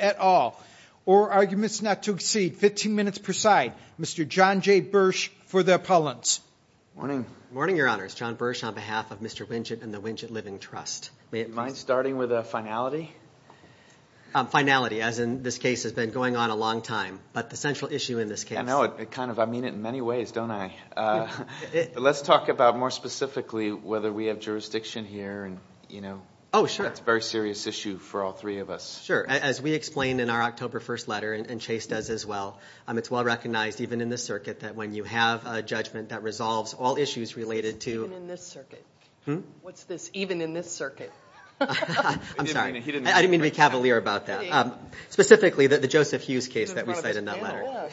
at all, or arguments not to exceed 15 minutes per side. Mr. John J. Bursch for the appellants. Morning. Morning, Your Honors. John Bursch on behalf of Mr. Winget and the Winget Living Trust. Do you mind starting with a finality? Finality, as in this case has been going on for a long time, but the central issue in this case. I mean it in many ways, don't I? Let's talk about more specifically whether we have jurisdiction here. It's a very serious issue for all three of us. Sure. As we explained in our October 1st letter, and Chase does as well, it's well recognized even in this circuit that when you have a judgment that resolves all issues related to... Even in this circuit. What's this, even in this circuit? I'm sorry. I didn't mean to be cavalier about that. Specifically, the Joseph Hughes case that we cite in that letter.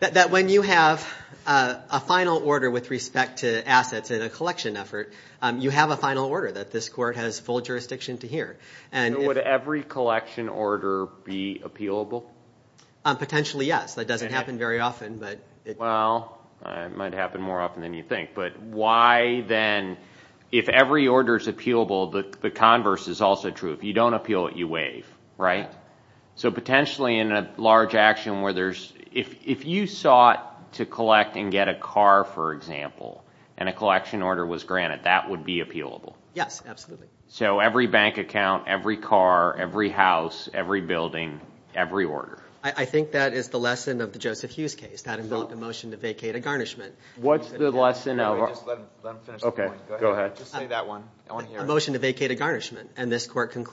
That when you have a final order with respect to assets in a collection effort, you have a final order that this court has full jurisdiction to hear. Would every collection order be appealable? Potentially, yes. That doesn't happen very often, but... Well, it might happen more often than you think, but why then if every order is appealable, the converse is also true. If you don't appeal it, you waive, right? Right. Potentially, in a large action where there's... If you sought to collect and get a car, for example, and a collection order was granted, that would be appealable? Yes, absolutely. Every bank account, every car, every house, every building, every order? I think that is the lesson of the Joseph Hughes case. That involved a motion to vacate a garnishment. What's the lesson of... Let him finish the point. Go ahead. Just say that one. I want to hear it. A motion to vacate a garnishment, and this could have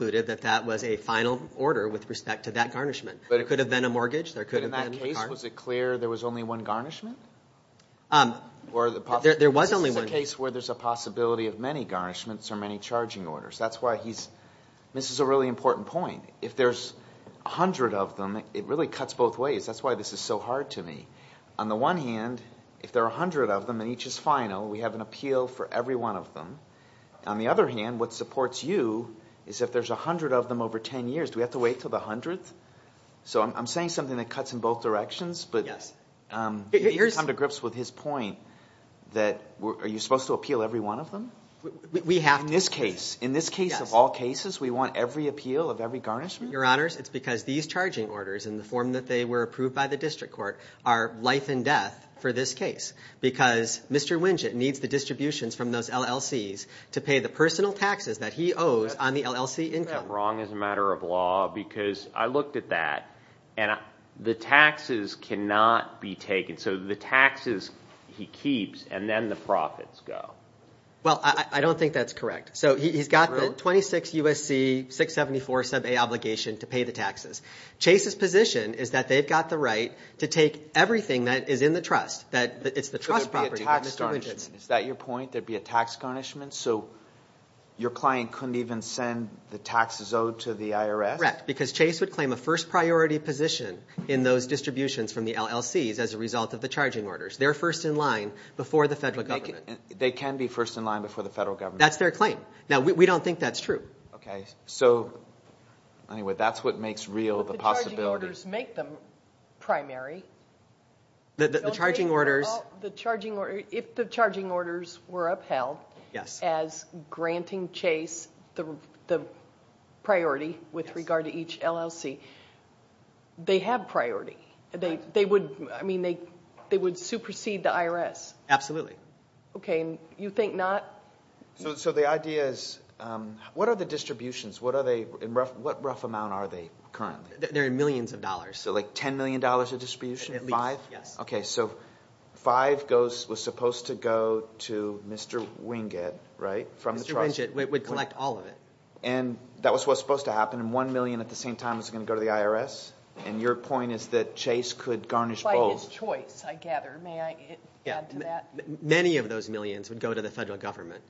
been a mortgage, there could have been a car. In that case, was it clear there was only one garnishment? There was only one. This is a case where there's a possibility of many garnishments or many charging orders. That's why he's... This is a really important point. If there's a hundred of them, it really cuts both ways. That's why this is so hard to me. On the one hand, if there are a hundred of them and each is final, we have an appeal for every one of them. On the other hand, what supports you is if there's a hundred of them over ten years, do we have to wait until the hundredth? I'm saying something that cuts in both directions, but... You can come to grips with his point that are you supposed to appeal every one of them? We have to. In this case, of all cases, we want every appeal of every garnishment? Your Honors, it's because these charging orders, in the form that they were approved by the district court, are life and death for this case. Because Mr. Winget needs the distributions from those LLCs to pay the personal taxes that he owes on the LLC income. I don't think that's wrong as a matter of law, because I looked at that, and the taxes cannot be taken. The taxes he keeps, and then the profits go. I don't think that's correct. He's got the 26 U.S.C. 674 sub A obligation to pay the taxes. Chase's position is that they've got the right to take everything that is in the trust. It's the trust property. There'd be a tax garnishment. Is that your point? There'd be a tax garnishment? Your client couldn't even send the taxes owed to the IRS? Correct. Because Chase would claim a first priority position in those distributions from the LLCs as a result of the charging orders. They're first in line before the federal government. They can be first in line before the federal government. That's their claim. We don't think that's true. Anyway, that's what makes real the possibility. But the charging orders make them primary. If the charging orders were upheld as granting Chase the priority with regard to each LLC, they have priority. They would supersede the IRS. Absolutely. You think not? The idea is, what are the distributions? What rough amount are they currently? They're in millions of dollars. $10 million of distribution? Five? Yes. Five was supposed to go to Mr. Wingate from the trust. Mr. Wingate would collect all of it. That was what was supposed to happen. One million at the same time was going to go to the IRS. Your point is that Chase could garnish both. By his choice, I gather. May I add to that? Many of those millions would go to the federal government.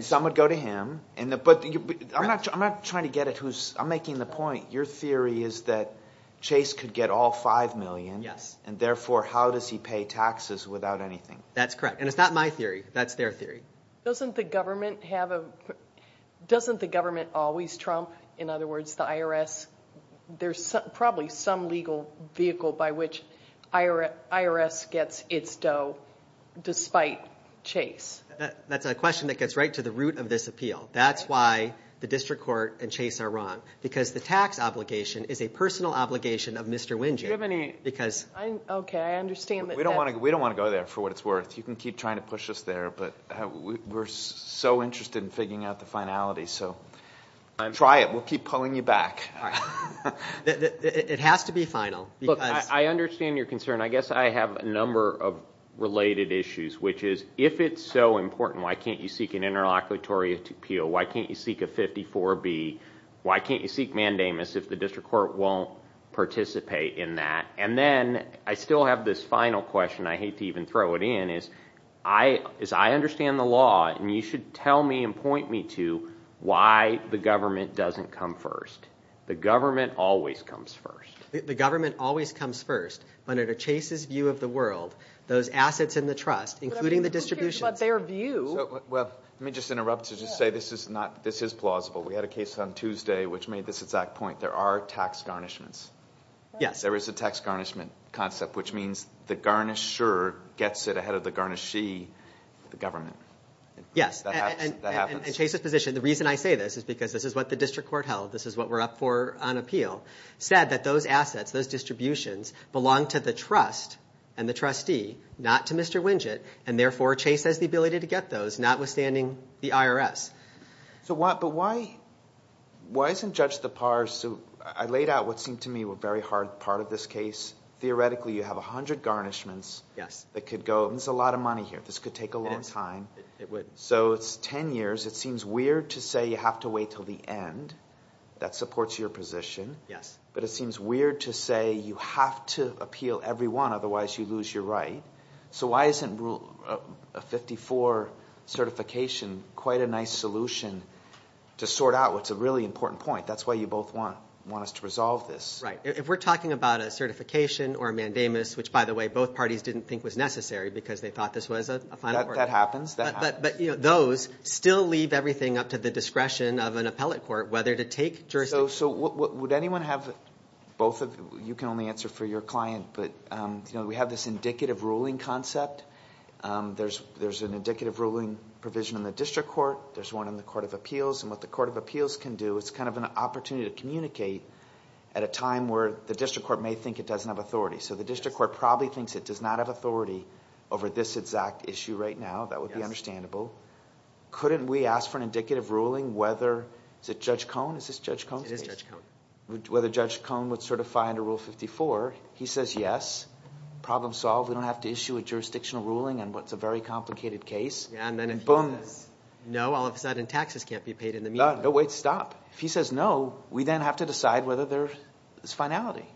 Some would go to him. I'm making the point. Your theory is that Chase could get all five million. Therefore, how does he pay taxes without anything? That's correct. It's not my theory. That's their theory. Doesn't the government always trump, in other words, the IRS? There's probably some legal vehicle by which IRS gets its dough, despite Chase. That's a question that gets right to the root of this appeal. That's why the district court and Chase are wrong. The tax obligation is a personal obligation of Mr. Wingate. Okay, I understand. We don't want to go there, for what it's worth. You can keep trying to push us there, but we're so interested in figuring out the finality. Try it. We'll keep pulling you back. It has to be final. I understand your concern. I guess I have a number of related issues. If it's so important, why can't you seek an interlocutory appeal? Why can't you seek a 54B? Why can't you seek mandamus if the district court won't participate in that? Then I still have this final question. I hate to even throw it in. As I understand the law, you should tell me and point me to why the government doesn't come first. The government always comes first. The government always comes first, but under Chase's view of the world, those assets in the trust, including the distributions... Let me just interrupt to say this is plausible. We had a case on Tuesday which made this exact point. There are tax garnishments. There is a tax garnishment concept, which means the garnisher gets it ahead of the garnishee, the government. Yes, and Chase's position, the reason I say this is because this is what the district court held. This is what we're up for on appeal. Said that those assets, those distributions, belong to the trust and the trustee, not to Mr. Winget, and therefore Chase has the ability to get those, notwithstanding the IRS. But why isn't Judge DePars... I laid out what seemed to me a very hard part of this case. Theoretically, you have 100 garnishments that could go. This is a lot of money here. This could take a long time. It would. So it's ten years. It seems weird to say you have to wait until the end. That supports your position. But it seems weird to say you have to appeal every one, otherwise you lose your right. So why isn't a 54 certification quite a nice solution to sort out what's a really important point? That's why you both want us to resolve this. Right. If we're talking about a certification or a mandamus, which, by the way, both parties didn't think was necessary because they thought this was a final word. That happens. That happens. But those still leave everything up to the discretion of an appellate court whether to take jurisdiction. So would anyone have both? You can only answer for your client. But we have this indicative ruling concept. There's an indicative ruling provision in the district court. There's one in the court of appeals. And what the court of appeals can do is kind of an opportunity to communicate at a time where the district court may think it doesn't have authority. So the district court probably thinks it does not have authority over this exact issue right now. That would be understandable. Couldn't we ask for an indicative ruling whether – is it Judge Cone? Is this Judge Cone's case? It is Judge Cone. Whether Judge Cone would certify under Rule 54. He says yes. Problem solved. We don't have to issue a jurisdictional ruling on what's a very complicated case. And then if he says no, all of a sudden taxes can't be paid in the meantime. No, wait, stop. If he says no, we then have to decide whether there's finality.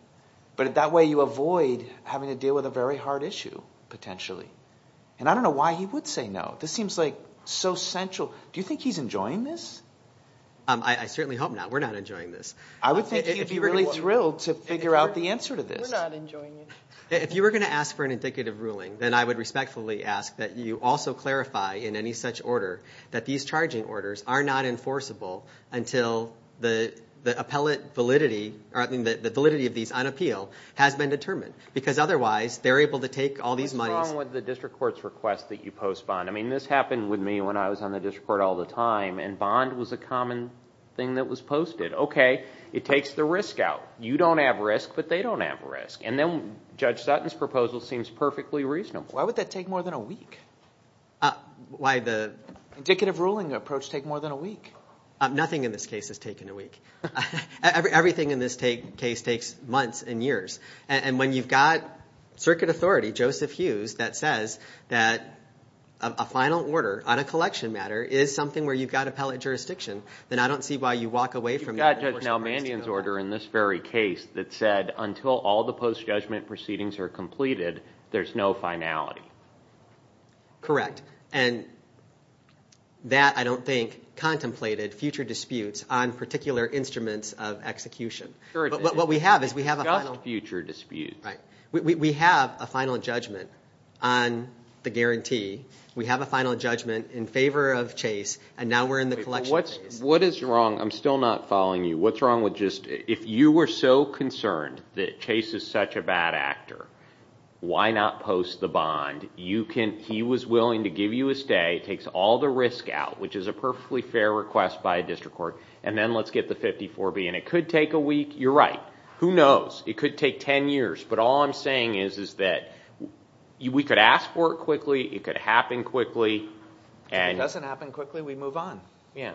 But that way you avoid having to deal with a very hard issue potentially. And I don't know why he would say no. This seems like so central. Do you think he's enjoying this? I certainly hope not. We're not enjoying this. I would think he would be really thrilled to figure out the answer to this. We're not enjoying it. If you were going to ask for an indicative ruling, then I would respectfully ask that you also clarify in any such order that these charging orders are not enforceable until the appellate validity – I mean the validity of these on appeal has been determined because otherwise they're able to take all these monies. What's wrong with the district court's request that you post bond? I mean this happened with me when I was on the district court all the time, and bond was a common thing that was posted. Okay, it takes the risk out. You don't have risk, but they don't have risk. And then Judge Sutton's proposal seems perfectly reasonable. Why would that take more than a week? Why the indicative ruling approach take more than a week? Nothing in this case has taken a week. Everything in this case takes months and years. And when you've got circuit authority, Joseph Hughes, that says that a final order on a collection matter is something where you've got appellate jurisdiction, then I don't see why you walk away from that. You've got Judge Nalbandian's order in this very case that said until all the post-judgment proceedings are completed, there's no finality. Correct. And that, I don't think, contemplated future disputes on particular instruments of execution. Discussed future disputes. We have a final judgment on the guarantee. We have a final judgment in favor of Chase, and now we're in the collection phase. What is wrong? I'm still not following you. What's wrong with just, if you were so concerned that Chase is such a bad actor, why not post the bond? He was willing to give you a stay. It takes all the risk out, which is a perfectly fair request by a district court. And then let's get the 54B. And it could take a week. You're right. Who knows? It could take 10 years. But all I'm saying is that we could ask for it quickly. It could happen quickly. If it doesn't happen quickly, we move on. Yeah.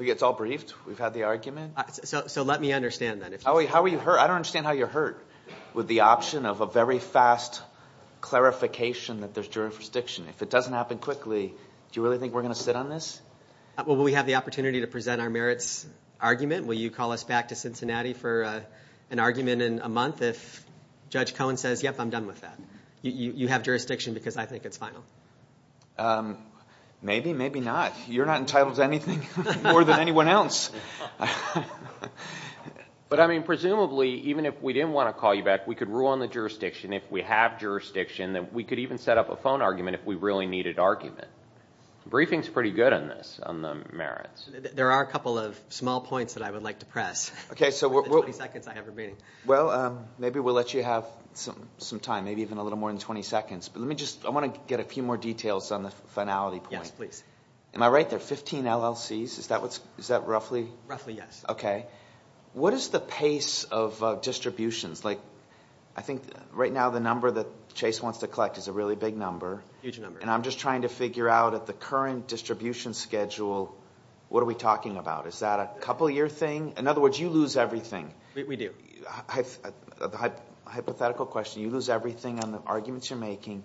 It's all briefed. We've had the argument. So let me understand that. How are you hurt? I don't understand how you're hurt with the option of a very fast clarification that there's jurisdiction. If it doesn't happen quickly, do you really think we're going to sit on this? Will we have the opportunity to present our merits argument? Will you call us back to Cincinnati for an argument in a month if Judge Cohen says, yep, I'm done with that? You have jurisdiction because I think it's final. Maybe, maybe not. You're not entitled to anything more than anyone else. But, I mean, presumably, even if we didn't want to call you back, we could rule on the jurisdiction, if we have jurisdiction, that we could even set up a phone argument if we really needed argument. Briefing's pretty good on this, on the merits. There are a couple of small points that I would like to press. Okay, so what? In the 20 seconds I have remaining. Well, maybe we'll let you have some time, maybe even a little more than 20 seconds. But let me just, I want to get a few more details on the finality point. Yes, please. Am I right? There are 15 LLCs. Is that roughly? Roughly, yes. Okay. What is the pace of distributions? Like, I think right now the number that Chase wants to collect is a really big number. Huge number. And I'm just trying to figure out at the current distribution schedule, what are we talking about? Is that a couple-year thing? In other words, you lose everything. We do. Hypothetical question. You lose everything on the arguments you're making.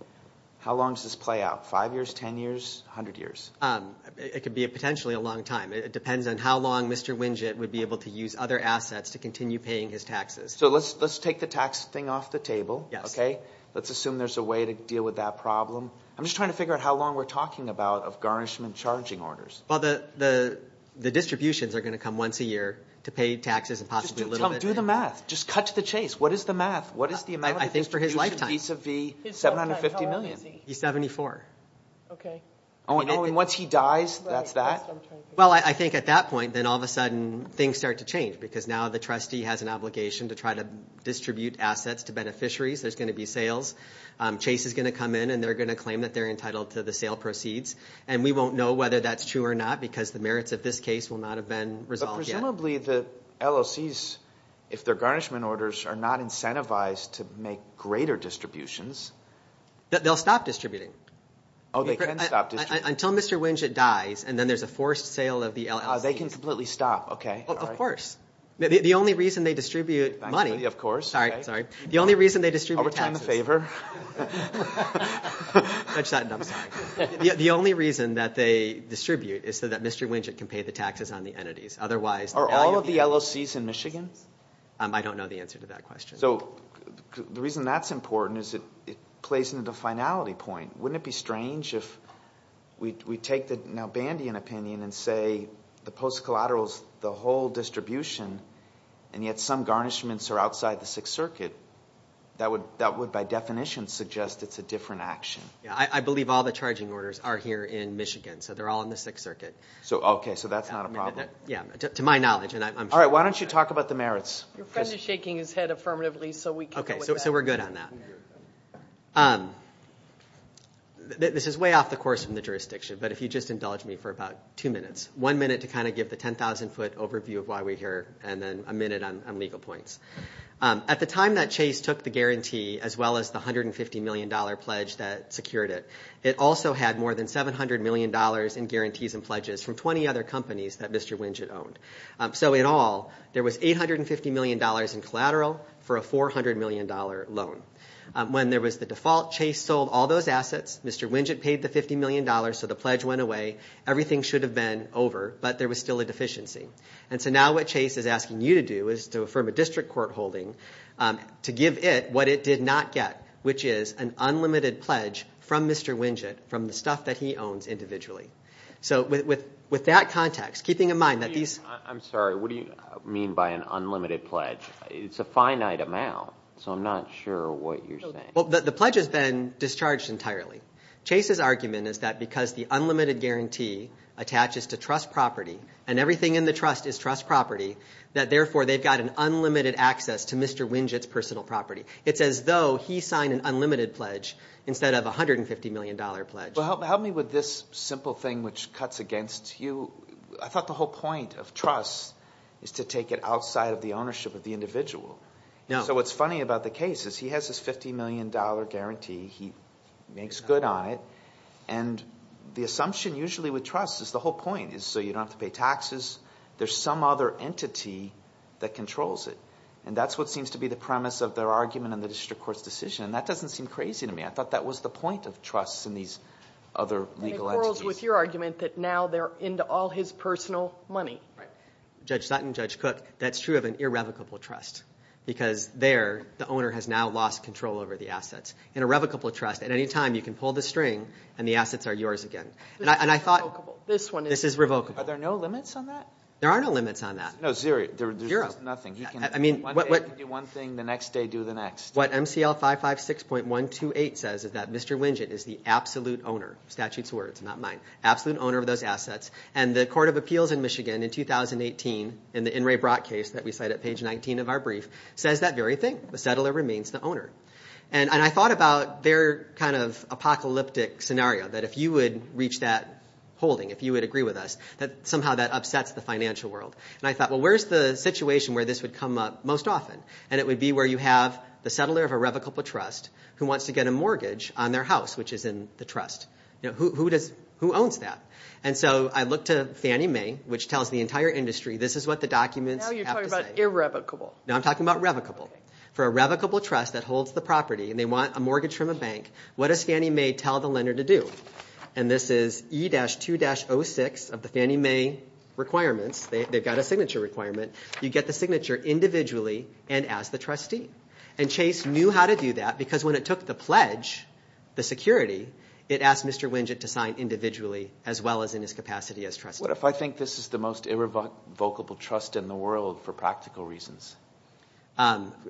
How long does this play out? Five years, ten years, a hundred years? It could be potentially a long time. It depends on how long Mr. Winget would be able to use other assets to continue paying his taxes. So let's take the tax thing off the table. Yes. Okay? Let's assume there's a way to deal with that problem. I'm just trying to figure out how long we're talking about of garnishment charging orders. Well, the distributions are going to come once a year to pay taxes and possibly a little bit. Do the math. Just cut to the chase. What is the math? What is the amount of distribution? I think for his lifetime. How long is he? He's 74. Okay. And once he dies, that's that? Well, I think at that point, then all of a sudden things start to change because now the trustee has an obligation to try to distribute assets to beneficiaries. There's going to be sales. Chase is going to come in and they're going to claim that they're entitled to the sale proceeds. And we won't know whether that's true or not because the merits of this case will not have been resolved yet. But presumably the LOCs, if their garnishment orders are not incentivized to make greater distributions. They'll stop distributing. Oh, they can stop distributing. Until Mr. Winget dies and then there's a forced sale of the LLC. They can completely stop. Okay. Of course. The only reason they distribute money. Of course. Sorry. The only reason they distribute taxes. Do me a favor. Judge Sutton, I'm sorry. The only reason that they distribute is so that Mr. Winget can pay the taxes on the entities. Are all of the LOCs in Michigan? I don't know the answer to that question. So the reason that's important is it plays into the finality point. Wouldn't it be strange if we take the now Bandian opinion and say the post collateral is the whole distribution and yet some garnishments are outside the Sixth Circuit? That would by definition suggest it's a different action. I believe all the charging orders are here in Michigan. So they're all in the Sixth Circuit. Okay. So that's not a problem. To my knowledge. All right. Why don't you talk about the merits? Your friend is shaking his head affirmatively so we can go with that. Okay. So we're good on that. This is way off the course from the jurisdiction. But if you just indulge me for about two minutes. One minute to kind of give the 10,000 foot overview of why we're here and then a minute on legal points. At the time that Chase took the guarantee as well as the $150 million pledge that secured it, it also had more than $700 million in guarantees and pledges from 20 other companies that Mr. Winget owned. So in all, there was $850 million in collateral for a $400 million loan. When there was the default, Chase sold all those assets. Mr. Winget paid the $50 million so the pledge went away. Everything should have been over, but there was still a deficiency. And so now what Chase is asking you to do is to affirm a district court holding to give it what it did not get, which is an unlimited pledge from Mr. Winget from the stuff that he owns individually. So with that context, keeping in mind that these. I'm sorry. What do you mean by an unlimited pledge? It's a finite amount, so I'm not sure what you're saying. Well, the pledge has been discharged entirely. Chase's argument is that because the unlimited guarantee attaches to trust property and everything in the trust is trust property, that therefore they've got an unlimited access to Mr. Winget's personal property. It's as though he signed an unlimited pledge instead of a $150 million pledge. Well, help me with this simple thing which cuts against you. I thought the whole point of trust is to take it outside of the ownership of the individual. So what's funny about the case is he has his $50 million guarantee. He makes good on it, and the assumption usually with trust is the whole point is so you don't have to pay taxes. There's some other entity that controls it, and that's what seems to be the premise of their argument in the district court's decision, and that doesn't seem crazy to me. I thought that was the point of trust in these other legal entities. And it quarrels with your argument that now they're into all his personal money. Judge Sutton, Judge Cook, that's true of an irrevocable trust because there the owner has now lost control over the assets. In a revocable trust, at any time you can pull the string and the assets are yours again. And I thought this is revocable. Are there no limits on that? There are no limits on that. No, there's nothing. He can do one thing, the next day do the next. What MCL 556.128 says is that Mr. Winget is the absolute owner, statute's words, not mine, absolute owner of those assets, and the Court of Appeals in Michigan in 2018 in the In re Brach case that we cite at page 19 of our brief says that very thing. The settler remains the owner. And I thought about their kind of apocalyptic scenario, that if you would reach that holding, if you would agree with us, that somehow that upsets the financial world. And I thought, well, where's the situation where this would come up most often? And it would be where you have the settler of a revocable trust who wants to get a mortgage on their house, which is in the trust. Who owns that? And so I looked to Fannie Mae, which tells the entire industry this is what the documents have to say. Now you're talking about irrevocable. Now I'm talking about revocable. For a revocable trust that holds the property and they want a mortgage from a bank, what does Fannie Mae tell the lender to do? And this is E-2-06 of the Fannie Mae requirements. They've got a signature requirement. You get the signature individually and ask the trustee. And Chase knew how to do that because when it took the pledge, the security, it asked Mr. Winget to sign individually as well as in his capacity as trustee. What if I think this is the most irrevocable trust in the world for practical reasons?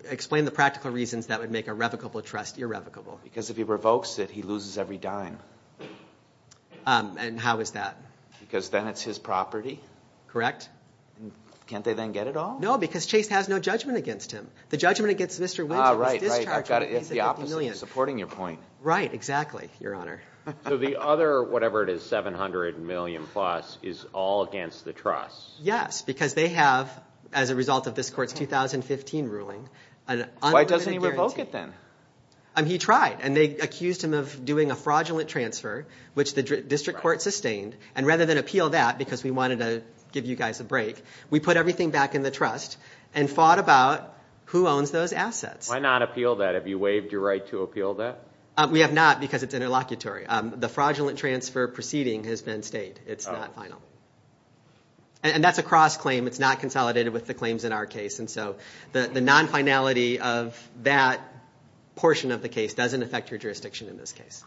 Explain the practical reasons that would make a revocable trust irrevocable. Because if he revokes it, he loses every dime. And how is that? Because then it's his property. Correct. Can't they then get it all? No, because Chase has no judgment against him. The judgment against Mr. Winget is discharging. Right, right. It's the opposite. It's supporting your point. Right, exactly, Your Honor. So the other, whatever it is, $700 million plus is all against the trust? Yes, because they have, as a result of this court's 2015 ruling, an unlimited guarantee. Why doesn't he revoke it then? He tried. And they accused him of doing a fraudulent transfer, which the district court sustained. And rather than appeal that, because we wanted to give you guys a break, we put everything back in the trust and fought about who owns those assets. Why not appeal that? Have you waived your right to appeal that? We have not, because it's interlocutory. The fraudulent transfer proceeding has been stayed. It's not final. And that's a cross-claim. It's not consolidated with the claims in our case. And so the non-finality of that portion of the case doesn't affect your jurisdiction in this case.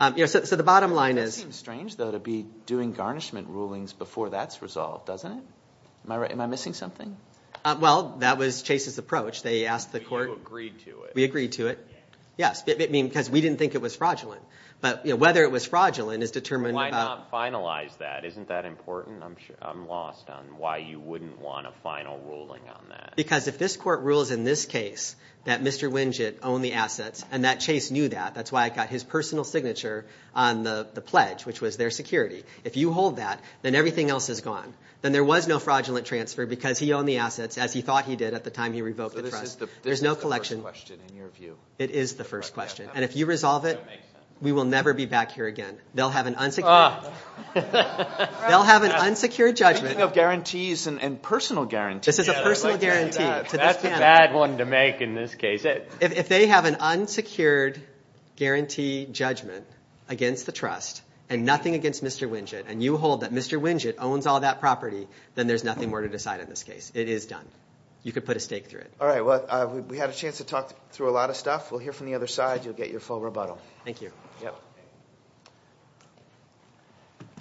So the bottom line is— It seems strange, though, to be doing garnishment rulings before that's resolved, doesn't it? Am I missing something? Well, that was Chase's approach. They asked the court— But you agreed to it. We agreed to it. Yes, because we didn't think it was fraudulent. But whether it was fraudulent is determined about— Why not finalize that? Isn't that important? I'm lost on why you wouldn't want a final ruling on that. Because if this court rules in this case that Mr. Winget owned the assets and that Chase knew that, that's why I got his personal signature on the pledge, which was their security. If you hold that, then everything else is gone. Then there was no fraudulent transfer because he owned the assets, as he thought he did at the time he revoked the trust. So this is the first question, in your view. It is the first question. And if you resolve it, we will never be back here again. They'll have an unsecured judgment. You have guarantees and personal guarantees. This is a personal guarantee. That's a bad one to make in this case. If they have an unsecured guarantee judgment against the trust and nothing against Mr. Winget, and you hold that Mr. Winget owns all that property, then there's nothing more to decide in this case. It is done. You can put a stake through it. All right, well, we had a chance to talk through a lot of stuff. We'll hear from the other side. You'll get your full rebuttal. Thank you.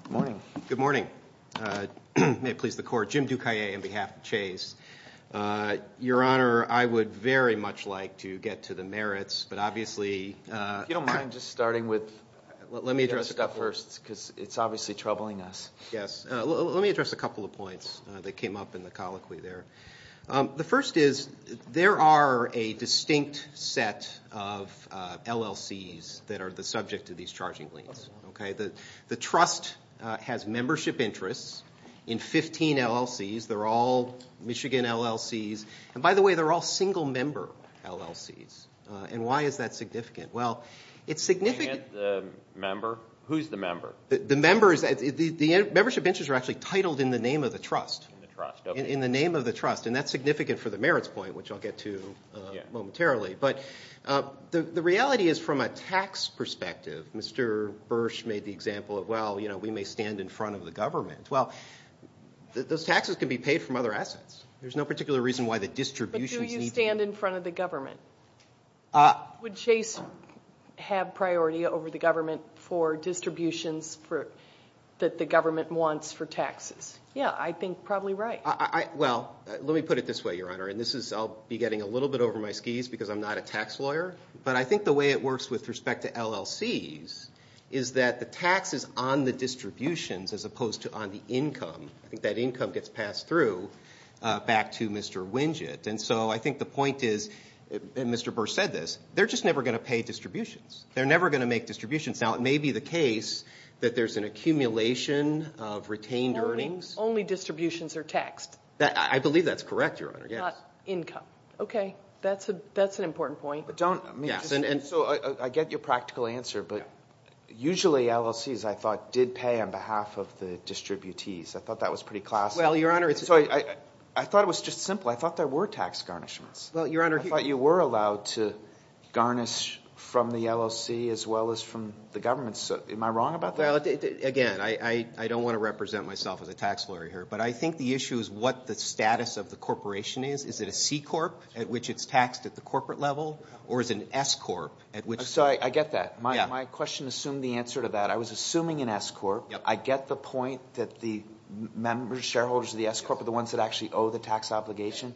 Good morning. Good morning. May it please the court. Jim Ducayet on behalf of Chase. Your Honor, I would very much like to get to the merits. But obviously- If you don't mind just starting with- Let me address- Because it's obviously troubling us. Yes. Let me address a couple of points that came up in the colloquy there. The first is there are a distinct set of LLCs that are the subject of these charging liens. Okay. The trust has membership interests in 15 LLCs. They're all Michigan LLCs. And by the way, they're all single-member LLCs. And why is that significant? Well, it's significant- The member? Who's the member? The member is- The membership interests are actually titled in the name of the trust. In the trust, okay. In the name of the trust. And that's significant for the merits point, which I'll get to momentarily. But the reality is from a tax perspective, Mr. Bursch made the example of, well, we may stand in front of the government. Well, those taxes can be paid from other assets. There's no particular reason why the distributions need to- But do you stand in front of the government? Would Chase have priority over the government for distributions that the government wants for taxes? Yeah, I think probably right. Well, let me put it this way, Your Honor, and I'll be getting a little bit over my skis because I'm not a tax lawyer. But I think the way it works with respect to LLCs is that the tax is on the distributions as opposed to on the income. I think that income gets passed through back to Mr. Winget. And so I think the point is, and Mr. Bursch said this, they're just never going to pay distributions. They're never going to make distributions. Now, it may be the case that there's an accumulation of retained earnings- Only distributions are taxed. I believe that's correct, Your Honor, yes. Not income. Okay. That's an important point. But don't- Yes. And so I get your practical answer, but usually LLCs, I thought, did pay on behalf of the distributees. I thought that was pretty classic. Well, Your Honor- So I thought it was just simple. I thought there were tax garnishments. Well, Your Honor- I thought you were allowed to garnish from the LLC as well as from the government. Am I wrong about that? Again, I don't want to represent myself as a tax lawyer here, but I think the issue is what the status of the corporation is. Is it a C-Corp at which it's taxed at the corporate level or is it an S-Corp at which- So I get that. My question assumed the answer to that. I was assuming an S-Corp. I get the point that the members, shareholders of the S-Corp are the ones that actually owe the tax obligation.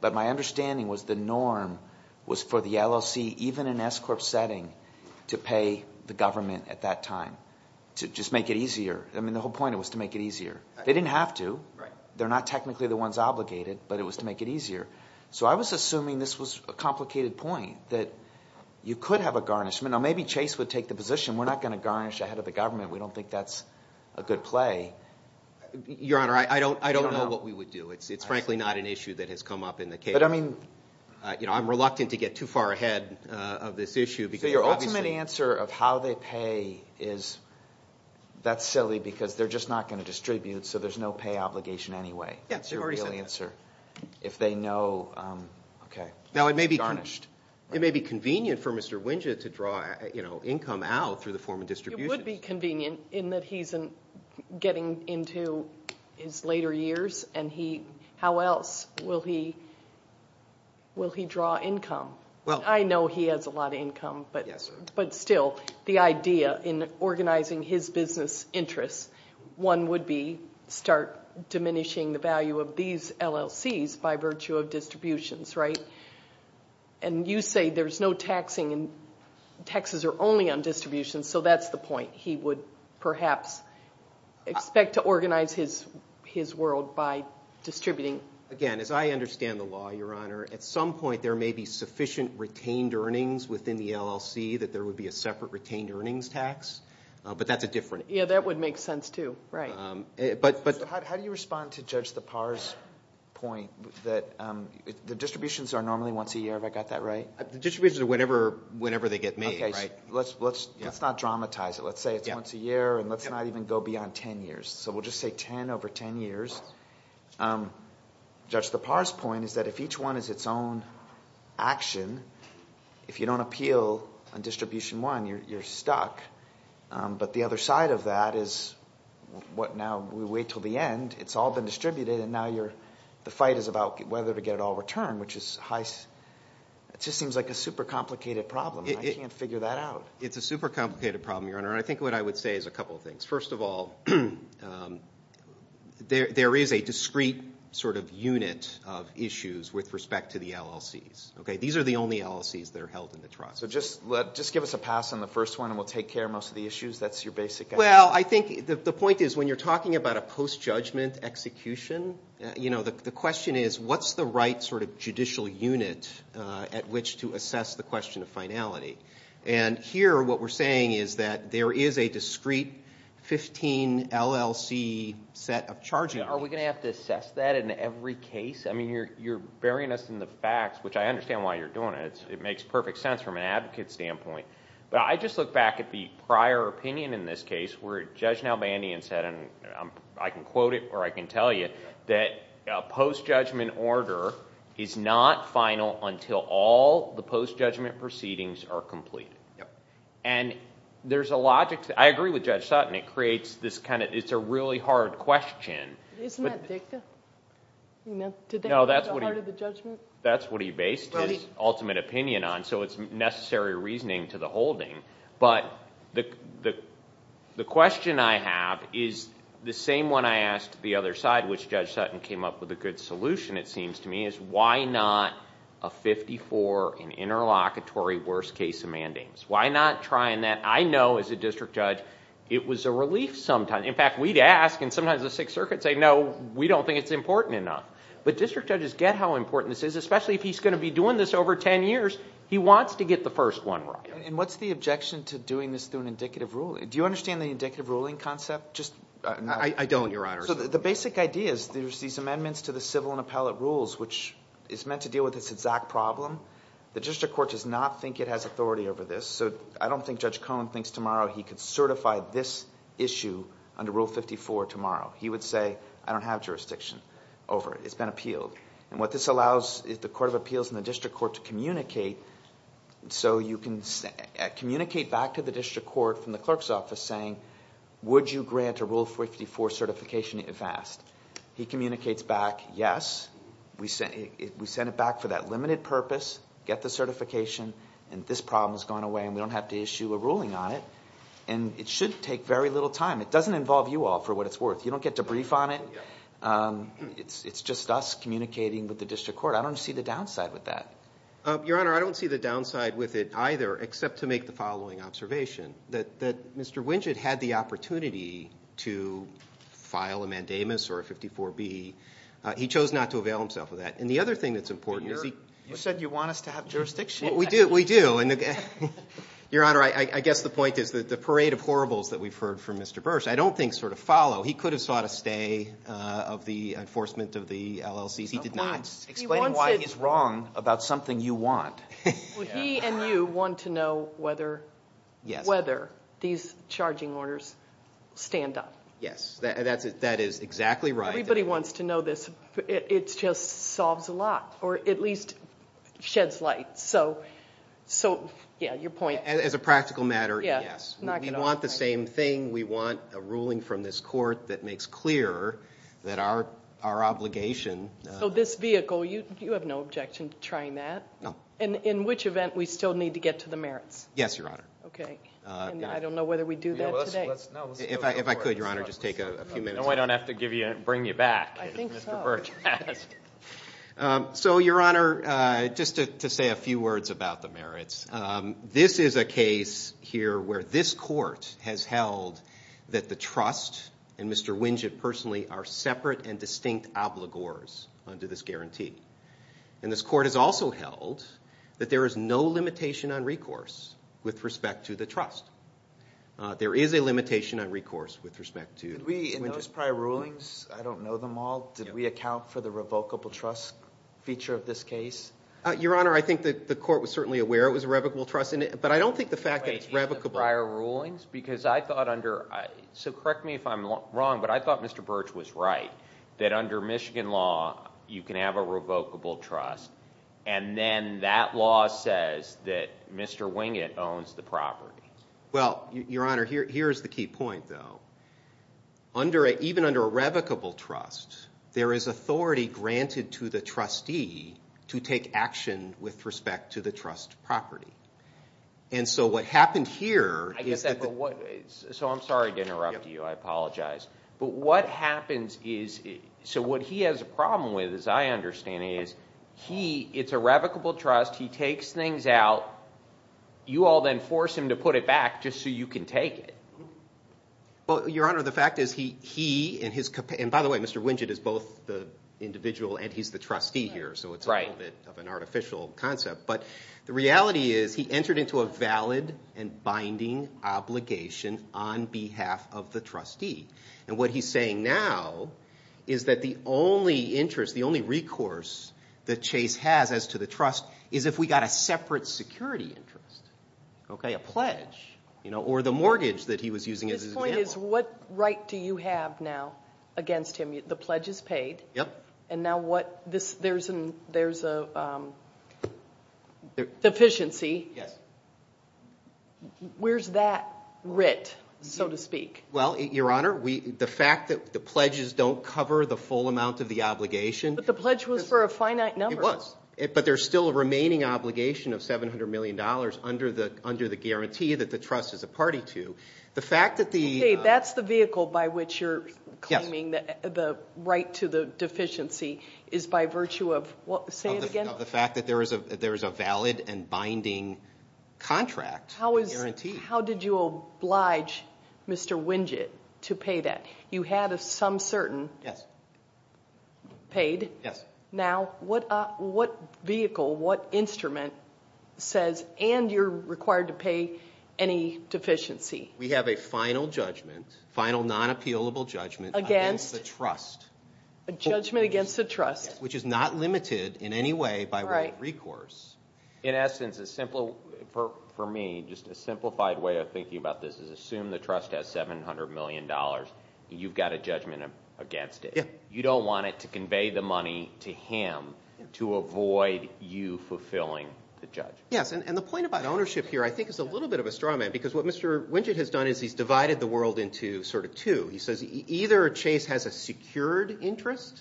But my understanding was the norm was for the LLC, even an S-Corp setting, to pay the government at that time to just make it easier. I mean the whole point was to make it easier. They didn't have to. They're not technically the ones obligated, but it was to make it easier. So I was assuming this was a complicated point that you could have a garnishment. Now, maybe Chase would take the position we're not going to garnish ahead of the government. We don't think that's a good play. Your Honor, I don't know what we would do. It's frankly not an issue that has come up in the case. But I mean- I'm reluctant to get too far ahead of this issue because- So your ultimate answer of how they pay is that's silly because they're just not going to distribute, so there's no pay obligation anyway. Yes, you've already said that. That's your real answer. If they know, okay. Now it may be- Garnished. It may be convenient for Mr. Wynja to draw income out through the form of distribution. It would be convenient in that he's getting into his later years, and how else will he draw income? Well- I know he has a lot of income. Yes, sir. But still, the idea in organizing his business interests, one would be start diminishing the value of these LLCs by virtue of distributions, right? And you say there's no taxing and taxes are only on distributions, so that's the point. He would perhaps expect to organize his world by distributing. Again, as I understand the law, Your Honor, at some point there may be sufficient retained earnings within the LLC that there would be a separate retained earnings tax. But that's a different- Yeah, that would make sense too. Right. How do you respond to Judge Lepar's point that the distributions are normally once a year? Have I got that right? The distributions are whenever they get made, right? Let's not dramatize it. Let's say it's once a year, and let's not even go beyond 10 years. So we'll just say 10 over 10 years. Judge Lepar's point is that if each one is its own action, if you don't appeal on distribution one, you're stuck. But the other side of that is now we wait until the end. It's all been distributed, and now the fight is about whether to get it all returned, which just seems like a super complicated problem. I can't figure that out. It's a super complicated problem, Your Honor, and I think what I would say is a couple of things. First of all, there is a discrete sort of unit of issues with respect to the LLCs. These are the only LLCs that are held in the trust. So just give us a pass on the first one, and we'll take care of most of the issues. That's your basic idea? Well, I think the point is when you're talking about a post-judgment execution, you know, the question is what's the right sort of judicial unit at which to assess the question of finality? And here what we're saying is that there is a discrete 15-LLC set of charges. Are we going to have to assess that in every case? I mean, you're burying us in the facts, which I understand why you're doing it. It makes perfect sense from an advocate standpoint. But I just look back at the prior opinion in this case where Judge Nalbandian said, and I can quote it or I can tell you, that a post-judgment order is not final until all the post-judgment proceedings are complete. And there's a logic to that. I agree with Judge Sutton. It creates this kind of – it's a really hard question. Isn't that dicta? No, that's what he based his ultimate opinion on. So it's necessary reasoning to the holding. But the question I have is the same one I asked the other side, which Judge Sutton came up with a good solution, it seems to me, is why not a 54, an interlocutory worst-case amendments? Why not try that? I know as a district judge it was a relief sometimes. In fact, we'd ask, and sometimes the Sixth Circuit would say, no, we don't think it's important enough. But district judges get how important this is, especially if he's going to be doing this over 10 years. He wants to get the first one right. And what's the objection to doing this through an indicative ruling? Do you understand the indicative ruling concept? I don't, Your Honor. So the basic idea is there's these amendments to the civil and appellate rules, which is meant to deal with this exact problem. The district court does not think it has authority over this. So I don't think Judge Cohen thinks tomorrow he could certify this issue under Rule 54 tomorrow. He would say, I don't have jurisdiction over it. It's been appealed. And what this allows is the court of appeals and the district court to communicate, so you can communicate back to the district court from the clerk's office saying, would you grant a Rule 54 certification if asked? He communicates back, yes, we sent it back for that limited purpose, get the certification, and this problem has gone away and we don't have to issue a ruling on it. And it should take very little time. It doesn't involve you all for what it's worth. You don't get to brief on it. It's just us communicating with the district court. I don't see the downside with that. Your Honor, I don't see the downside with it either except to make the following observation, that Mr. Wingett had the opportunity to file a mandamus or a 54B. He chose not to avail himself of that. And the other thing that's important is he – You said you want us to have jurisdiction. We do. Your Honor, I guess the point is that the parade of horribles that we've heard from Mr. Bursch I don't think sort of follow. He could have sought a stay of the enforcement of the LLC. He did not. Explaining why he's wrong about something you want. He and you want to know whether these charging orders stand up. Yes, that is exactly right. Everybody wants to know this. It just solves a lot or at least sheds light. So, yeah, your point. As a practical matter, yes. We want the same thing. We want a ruling from this court that makes clear that our obligation – So this vehicle, you have no objection to trying that? No. In which event, we still need to get to the merits? Yes, Your Honor. Okay. And I don't know whether we do that today. If I could, Your Honor, just take a few minutes. No, I don't have to bring you back, as Mr. Bursch has. So, Your Honor, just to say a few words about the merits. This is a case here where this court has held that the trust and Mr. Winget personally are separate and distinct obligors under this guarantee. And this court has also held that there is no limitation on recourse with respect to the trust. There is a limitation on recourse with respect to – In those prior rulings, I don't know them all, did we account for the revocable trust feature of this case? Your Honor, I think the court was certainly aware it was a revocable trust, but I don't think the fact that it's revocable – Wait, in the prior rulings? Because I thought under – so correct me if I'm wrong, but I thought Mr. Bursch was right, that under Michigan law, you can have a revocable trust, and then that law says that Mr. Winget owns the property. Well, Your Honor, here is the key point, though. Even under a revocable trust, there is authority granted to the trustee to take action with respect to the trust property. And so what happened here is that the – So I'm sorry to interrupt you. I apologize. But what happens is – so what he has a problem with, as I understand it, is he – it's a revocable trust. He takes things out. You all then force him to put it back just so you can take it. Well, Your Honor, the fact is he and his – and by the way, Mr. Winget is both the individual and he's the trustee here, so it's a little bit of an artificial concept. But the reality is he entered into a valid and binding obligation on behalf of the trustee. And what he's saying now is that the only interest, the only recourse that Chase has as to the trust is if we got a separate security interest, a pledge, or the mortgage that he was using as his example. His point is what right do you have now against him? The pledge is paid. Yep. And now what – there's a deficiency. Yes. Where's that writ, so to speak? Well, Your Honor, the fact that the pledges don't cover the full amount of the obligation – But the pledge was for a finite number. It was. But there's still a remaining obligation of $700 million under the guarantee that the trust is a party to. The fact that the – Okay, that's the vehicle by which you're claiming the right to the deficiency is by virtue of what? Say it again. Of the fact that there is a valid and binding contract guarantee. How did you oblige Mr. Winget to pay that? You had a some certain paid. Yes. Now, what vehicle, what instrument says, and you're required to pay any deficiency? We have a final judgment, final non-appealable judgment against the trust. A judgment against the trust. Which is not limited in any way by recourse. In essence, for me, just a simplified way of thinking about this is assume the trust has $700 million. You've got a judgment against it. You don't want it to convey the money to him to avoid you fulfilling the judgment. Yes, and the point about ownership here I think is a little bit of a straw man because what Mr. Winget has done is he's divided the world into sort of two. He says either Chase has a secured interest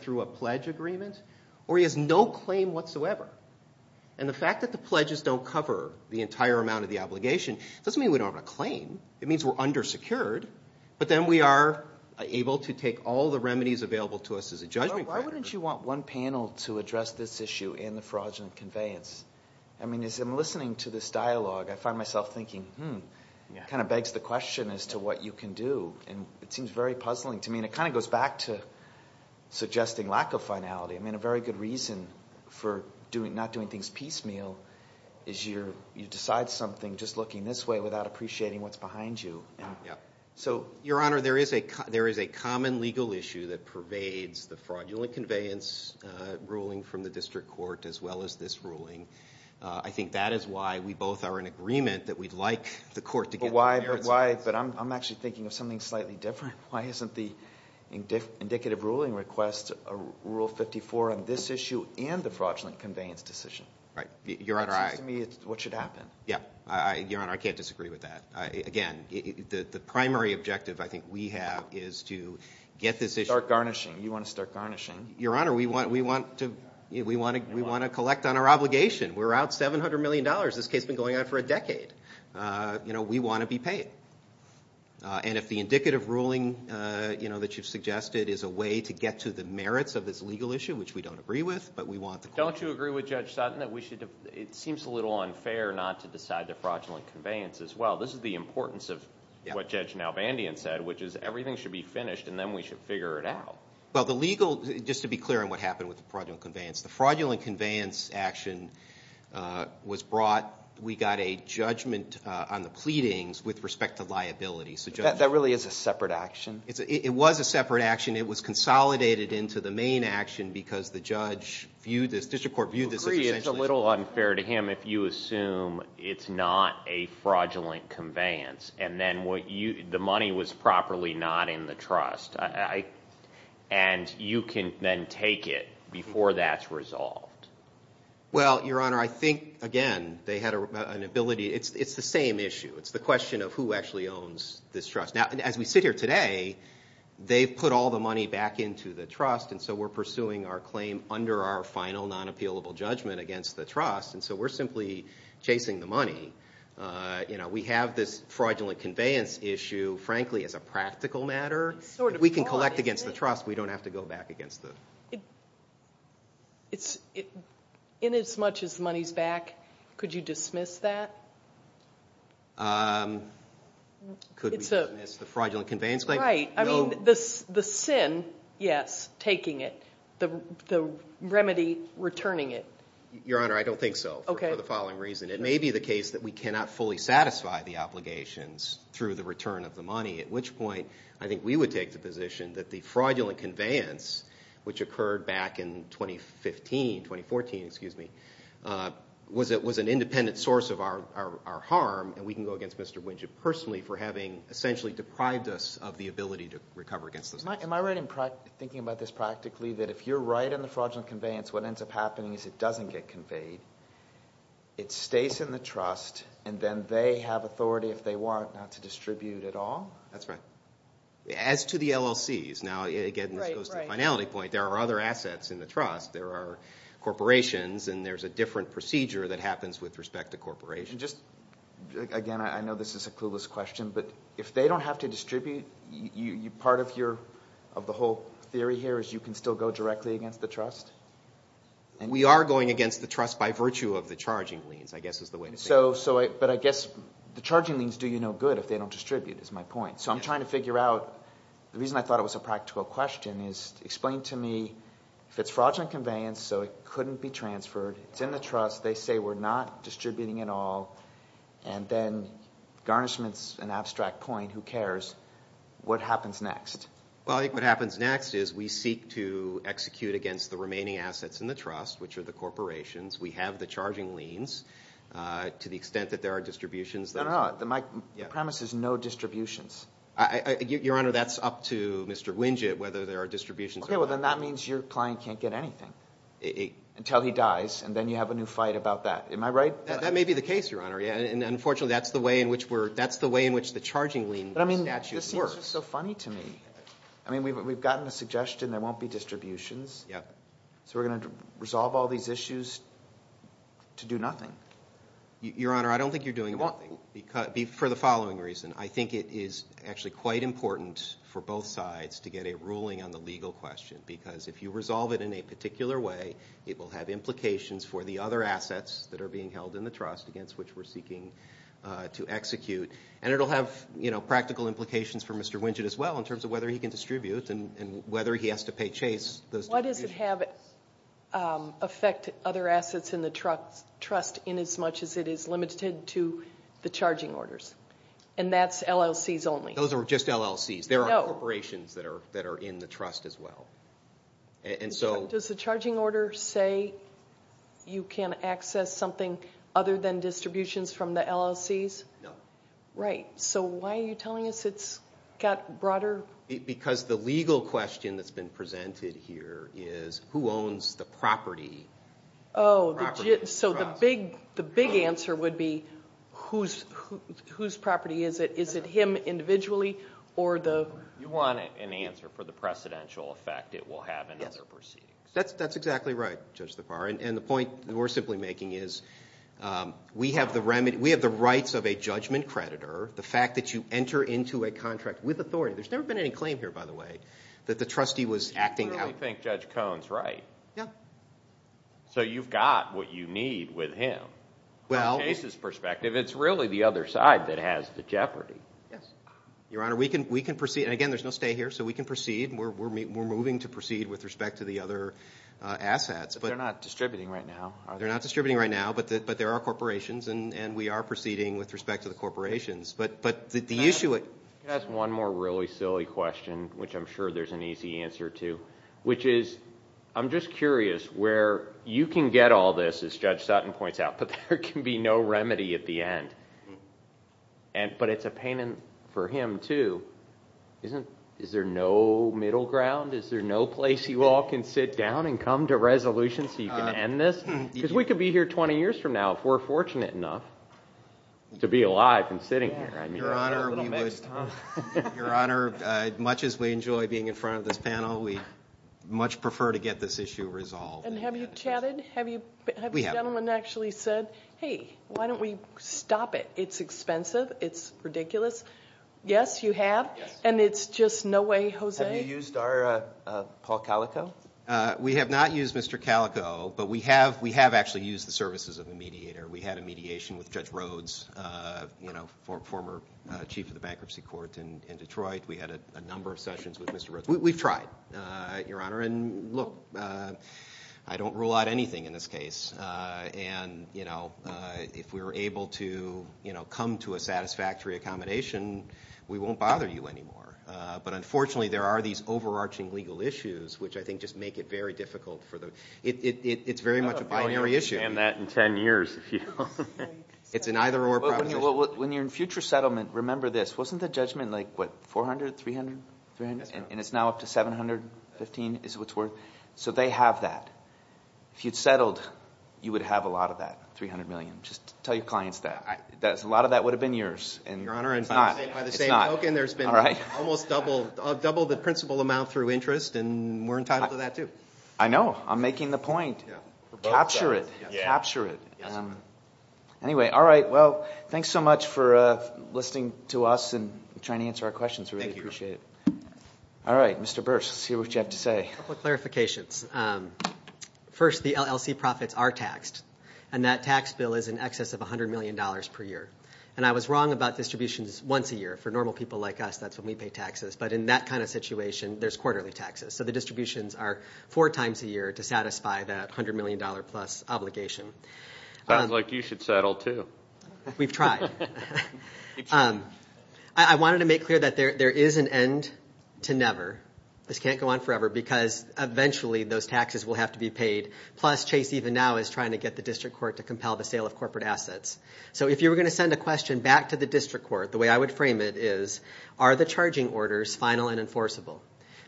through a pledge agreement or he has no claim whatsoever. And the fact that the pledges don't cover the entire amount of the obligation doesn't mean we don't have a claim. It means we're undersecured. But then we are able to take all the remedies available to us as a judgment. Why wouldn't you want one panel to address this issue and the fraudulent conveyance? I mean, as I'm listening to this dialogue, I find myself thinking, hmm, it kind of begs the question as to what you can do. And it seems very puzzling to me. And it kind of goes back to suggesting lack of finality. I mean, a very good reason for not doing things piecemeal is you decide something just looking this way without appreciating what's behind you. So, Your Honor, there is a common legal issue that pervades the fraudulent conveyance ruling from the district court as well as this ruling. I think that is why we both are in agreement that we'd like the court to get the merits of this. But I'm actually thinking of something slightly different. Why isn't the indicative ruling request Rule 54 on this issue and the fraudulent conveyance decision? That seems to me what should happen. Your Honor, I can't disagree with that. Again, the primary objective I think we have is to get this issue... Start garnishing. You want to start garnishing. Your Honor, we want to collect on our obligation. We're out $700 million. This case has been going on for a decade. We want to be paid. And if the indicative ruling that you've suggested is a way to get to the merits of this legal issue, which we don't agree with, but we want the court... Don't you agree with Judge Sutton that it seems a little unfair not to decide the fraudulent conveyance as well? This is the importance of what Judge Nalvandian said, which is everything should be finished, and then we should figure it out. Well, the legal... Just to be clear on what happened with the fraudulent conveyance, the fraudulent conveyance action was brought... We got a judgment on the pleadings with respect to liability. That really is a separate action? It was a separate action. It was consolidated into the main action because the judge viewed this... The district court viewed this as essentially... It seems a little unfair to him if you assume it's not a fraudulent conveyance and then the money was properly not in the trust, and you can then take it before that's resolved. Well, Your Honor, I think, again, they had an ability... It's the same issue. It's the question of who actually owns this trust. Now, as we sit here today, they've put all the money back into the trust, and so we're pursuing our claim under our final non-appealable judgment against the trust, and so we're simply chasing the money. We have this fraudulent conveyance issue, frankly, as a practical matter. If we can collect against the trust, we don't have to go back against the... Inasmuch as the money's back, could you dismiss that? Could we dismiss the fraudulent conveyance claim? Right. The sin, yes, taking it. The remedy, returning it. Your Honor, I don't think so for the following reason. It may be the case that we cannot fully satisfy the obligations through the return of the money, at which point I think we would take the position that the fraudulent conveyance, which occurred back in 2015, 2014, excuse me, was an independent source of our harm, and we can go against Mr. Wynja personally for having essentially deprived us of the ability to recover against this. Am I right in thinking about this practically, that if you're right in the fraudulent conveyance, what ends up happening is it doesn't get conveyed, it stays in the trust, and then they have authority, if they want, not to distribute at all? That's right. As to the LLCs, now, again, this goes to the finality point, there are other assets in the trust. There are corporations, and there's a different procedure that happens with respect to corporations. Again, I know this is a clueless question, but if they don't have to distribute, part of the whole theory here is you can still go directly against the trust? We are going against the trust by virtue of the charging liens, I guess is the way to say it. But I guess the charging liens do you no good if they don't distribute, is my point. So I'm trying to figure out, the reason I thought it was a practical question is, explain to me if it's fraudulent conveyance, so it couldn't be transferred, it's in the trust, they say we're not distributing at all, and then garnishment's an abstract point, who cares, what happens next? Well, I think what happens next is we seek to execute against the remaining assets in the trust, which are the corporations. We have the charging liens to the extent that there are distributions. No, no, no, my premise is no distributions. Your Honor, that's up to Mr. Winget whether there are distributions or not. Okay, well then that means your client can't get anything until he dies, and then you have a new fight about that, am I right? That may be the case, Your Honor, and unfortunately that's the way in which we're, that's the way in which the charging lien statute works. But I mean, this seems so funny to me. I mean, we've gotten a suggestion there won't be distributions. Yep. So we're going to resolve all these issues to do nothing. Your Honor, I don't think you're doing nothing for the following reason. I think it is actually quite important for both sides to get a ruling on the legal question because if you resolve it in a particular way, it will have implications for the other assets that are being held in the trust against which we're seeking to execute. And it will have, you know, practical implications for Mr. Winget as well in terms of whether he can distribute and whether he has to pay Chase those distributions. Why does it affect other assets in the trust in as much as it is limited to the charging orders? And that's LLCs only. Those are just LLCs. There are corporations that are in the trust as well. Does the charging order say you can access something other than distributions from the LLCs? No. Right. So why are you telling us it's got broader? Because the legal question that's been presented here is who owns the property? Oh, so the big answer would be whose property is it? Is it him individually or the? You want an answer for the precedential effect it will have in other proceedings. That's exactly right, Judge LaFar. And the point we're simply making is we have the rights of a judgment creditor, the fact that you enter into a contract with authority. There's never been any claim here, by the way, that the trustee was acting out. I don't think Judge Cohn's right. So you've got what you need with him. From the case's perspective, it's really the other side that has the jeopardy. Your Honor, we can proceed. And again, there's no stay here, so we can proceed. We're moving to proceed with respect to the other assets. But they're not distributing right now. They're not distributing right now, but there are corporations, and we are proceeding with respect to the corporations. That's one more really silly question, which I'm sure there's an easy answer to, which is I'm just curious where you can get all this, as Judge Sutton points out, but there can be no remedy at the end. But it's a pain for him, too. Is there no middle ground? Is there no place you all can sit down and come to resolution so you can end this? Because we could be here 20 years from now if we're fortunate enough to be alive and sitting here. Your Honor, much as we enjoy being in front of this panel, we much prefer to get this issue resolved. And have you chatted? Have you gentlemen actually said, hey, why don't we stop it? It's expensive. It's ridiculous. Yes, you have. And it's just no way, Jose. Have you used our Paul Calico? We have not used Mr. Calico, but we have actually used the services of a mediator. We had a mediation with Judge Rhodes, former Chief of the Bankruptcy Court in Detroit. We had a number of sessions with Mr. Rhodes. We've tried, Your Honor. And look, I don't rule out anything in this case. And if we were able to come to a satisfactory accommodation, we won't bother you anymore. But unfortunately there are these overarching legal issues, which I think just make it very difficult. It's very much a binary issue. I'm not saying that in ten years, if you don't mind. It's an either-or proposition. When you're in future settlement, remember this. Wasn't the judgment, like, what, $400 million, $300 million? And it's now up to $715 million is what it's worth. So they have that. If you'd settled, you would have a lot of that, $300 million. Just tell your clients that. A lot of that would have been yours. Your Honor, by the same token, there's been almost double the principal amount through interest, and we're entitled to that too. I know. I'm making the point. Capture it. Capture it. Anyway, all right, well, thanks so much for listening to us and trying to answer our questions. We really appreciate it. All right, Mr. Burse, let's hear what you have to say. A couple of clarifications. First, the LLC profits are taxed, and that tax bill is in excess of $100 million per year. And I was wrong about distributions once a year. For normal people like us, that's when we pay taxes. But in that kind of situation, there's quarterly taxes. So the distributions are four times a year to satisfy that $100 million plus obligation. Sounds like you should settle too. We've tried. I wanted to make clear that there is an end to never. This can't go on forever because eventually those taxes will have to be paid, plus Chase even now is trying to get the district court to compel the sale of corporate assets. So if you were going to send a question back to the district court, the way I would frame it is, are the charging orders final and enforceable?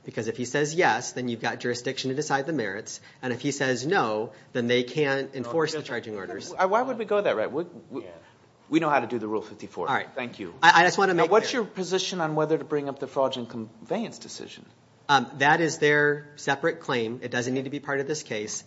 Because if he says yes, then you've got jurisdiction to decide the merits. And if he says no, then they can't enforce the charging orders. Why would we go that route? We know how to do the Rule 54. All right. Thank you. I just want to make clear. What's your position on whether to bring up the fraudulent conveyance decision? That is their separate claim. It doesn't need to be part of this case.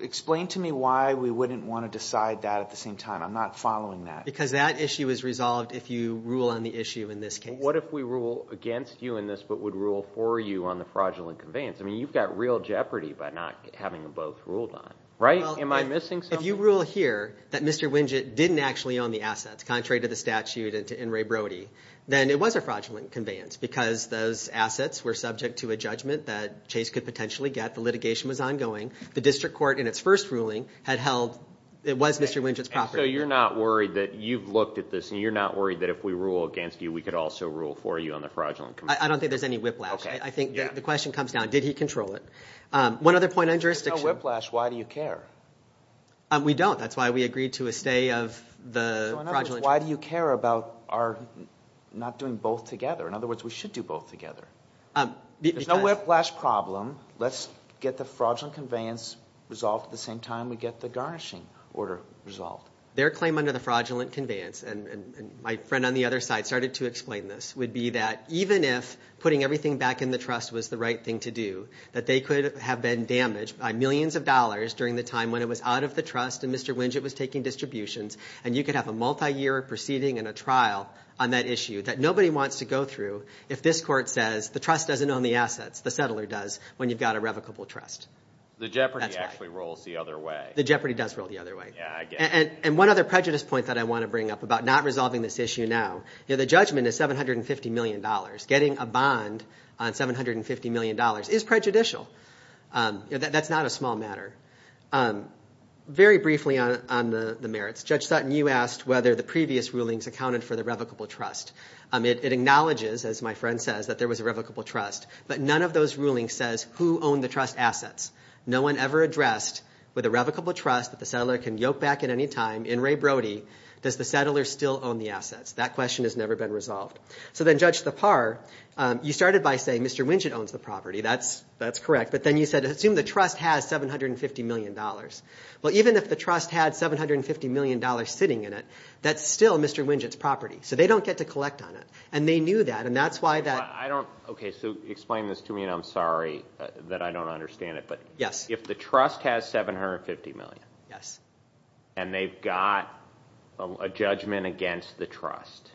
Explain to me why we wouldn't want to decide that at the same time. I'm not following that. Because that issue is resolved if you rule on the issue in this case. What if we rule against you in this but would rule for you on the fraudulent conveyance? I mean, you've got real jeopardy by not having them both ruled on. Right? Am I missing something? If you rule here that Mr. Wingett didn't actually own the assets, contrary to the statute and Ray Brody, then it was a fraudulent conveyance because those assets were subject to a judgment that Chase could potentially get. The litigation was ongoing. The district court, in its first ruling, had held it was Mr. Wingett's property. So you're not worried that you've looked at this and you're not worried that if we rule against you, we could also rule for you on the fraudulent conveyance? I don't think there's any whiplash. I think the question comes down, did he control it? One other point on jurisdiction. If there's no whiplash, why do you care? We don't. That's why we agreed to a stay of the fraudulent conveyance. So in other words, why do you care about our not doing both together? In other words, we should do both together. There's no whiplash problem. Let's get the fraudulent conveyance resolved at the same time we get the garnishing order resolved. Their claim under the fraudulent conveyance, and my friend on the other side started to explain this, would be that even if putting everything back in the trust was the right thing to do, that they could have been damaged by millions of dollars during the time when it was out of the trust and Mr. Wingett was taking distributions, and you could have a multiyear proceeding and a trial on that issue that nobody wants to go through if this court says the trust doesn't own the assets, the settler does, when you've got a revocable trust. The jeopardy actually rolls the other way. The jeopardy does roll the other way. And one other prejudice point that I want to bring up about not resolving this issue now, the judgment is $750 million. Getting a bond on $750 million is prejudicial. That's not a small matter. Very briefly on the merits, Judge Sutton, you asked whether the previous rulings accounted for the revocable trust. It acknowledges, as my friend says, that there was a revocable trust, but none of those rulings says who owned the trust assets. No one ever addressed with a revocable trust that the settler can yoke back at any time, in Ray Brody, does the settler still own the assets. That question has never been resolved. So then Judge Thapar, you started by saying Mr. Wingett owns the property. That's correct. But then you said assume the trust has $750 million. Well, even if the trust had $750 million sitting in it, that's still Mr. Wingett's property. So they don't get to collect on it. And they knew that, and that's why that. Okay, so explain this to me, and I'm sorry that I don't understand it, but if the trust has $750 million and they've got a judgment against the trust,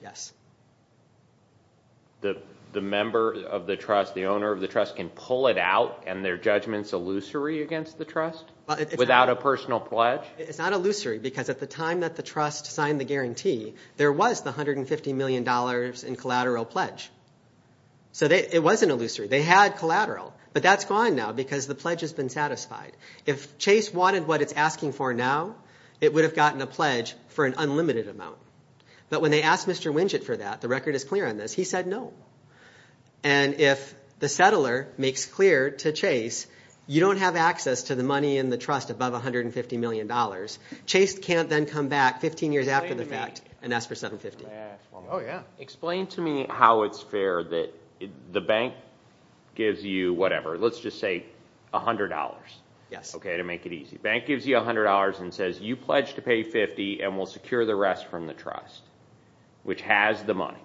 the member of the trust, the owner of the trust can pull it out and their judgment's illusory against the trust without a personal pledge? It's not illusory because at the time that the trust signed the guarantee, there was the $150 million in collateral pledge. So it wasn't illusory. They had collateral, but that's gone now because the pledge has been satisfied. If Chase wanted what it's asking for now, it would have gotten a pledge for an unlimited amount. But when they asked Mr. Wingett for that, the record is clear on this, he said no. And if the settler makes clear to Chase, you don't have access to the money in the trust above $150 million. Chase can't then come back 15 years after the fact and ask for $750 million. Explain to me how it's fair that the bank gives you whatever. Let's just say $100 to make it easy. The bank gives you $100 and says you pledge to pay $50 and we'll secure the rest from the trust, which has the money.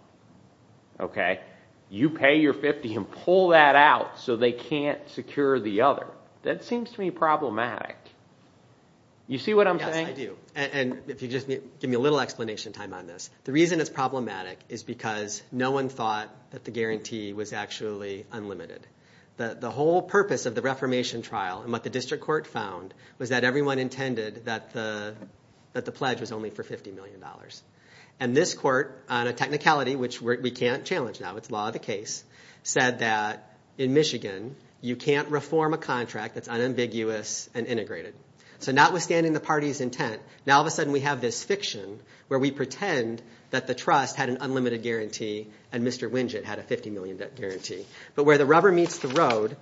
You pay your $50 and pull that out so they can't secure the other. That seems to me problematic. You see what I'm saying? Yes, I do. And if you just give me a little explanation time on this. The reason it's problematic is because no one thought that the guarantee was actually unlimited. The whole purpose of the reformation trial and what the district court found was that everyone intended that the pledge was only for $50 million. And this court, on a technicality which we can't challenge now, it's law of the case, said that in Michigan you can't reform a contract that's unambiguous and integrated. So notwithstanding the party's intent, now all of a sudden we have this fiction where we pretend that the trust had an unlimited guarantee and Mr. Winget had a $50 million guarantee. But where the rubber meets the road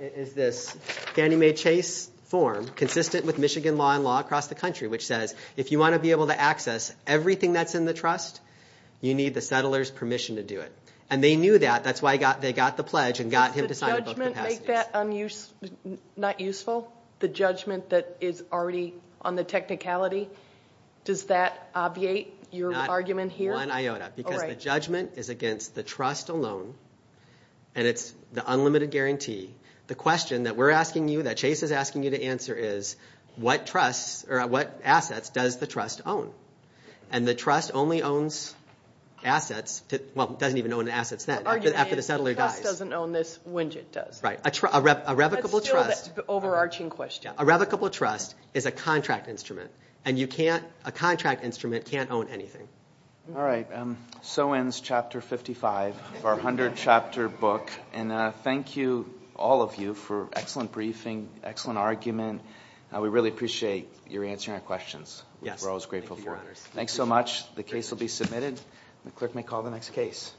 is this Fannie Mae Chase form, consistent with Michigan law and law across the country, which says if you want to be able to access everything that's in the trust, you need the settler's permission to do it. And they knew that. That's why they got the pledge and got him to sign it both capacities. Does the judgment make that not useful? The judgment that is already on the technicality? Does that obviate your argument here? Not one iota. Because the judgment is against the trust alone, and it's the unlimited guarantee. The question that we're asking you, that Chase is asking you to answer is, what assets does the trust own? And the trust only owns assets, well, it doesn't even own an assets net after the settler dies. The trust doesn't own this. Winget does. Right. A revocable trust. That's still the overarching question. A revocable trust is a contract instrument, and a contract instrument can't own anything. All right. So ends Chapter 55 of our 100-chapter book, and thank you, all of you, for excellent briefing, excellent argument. We really appreciate your answering our questions. We're always grateful for it. Thanks so much. The case will be submitted. The clerk may call the next case.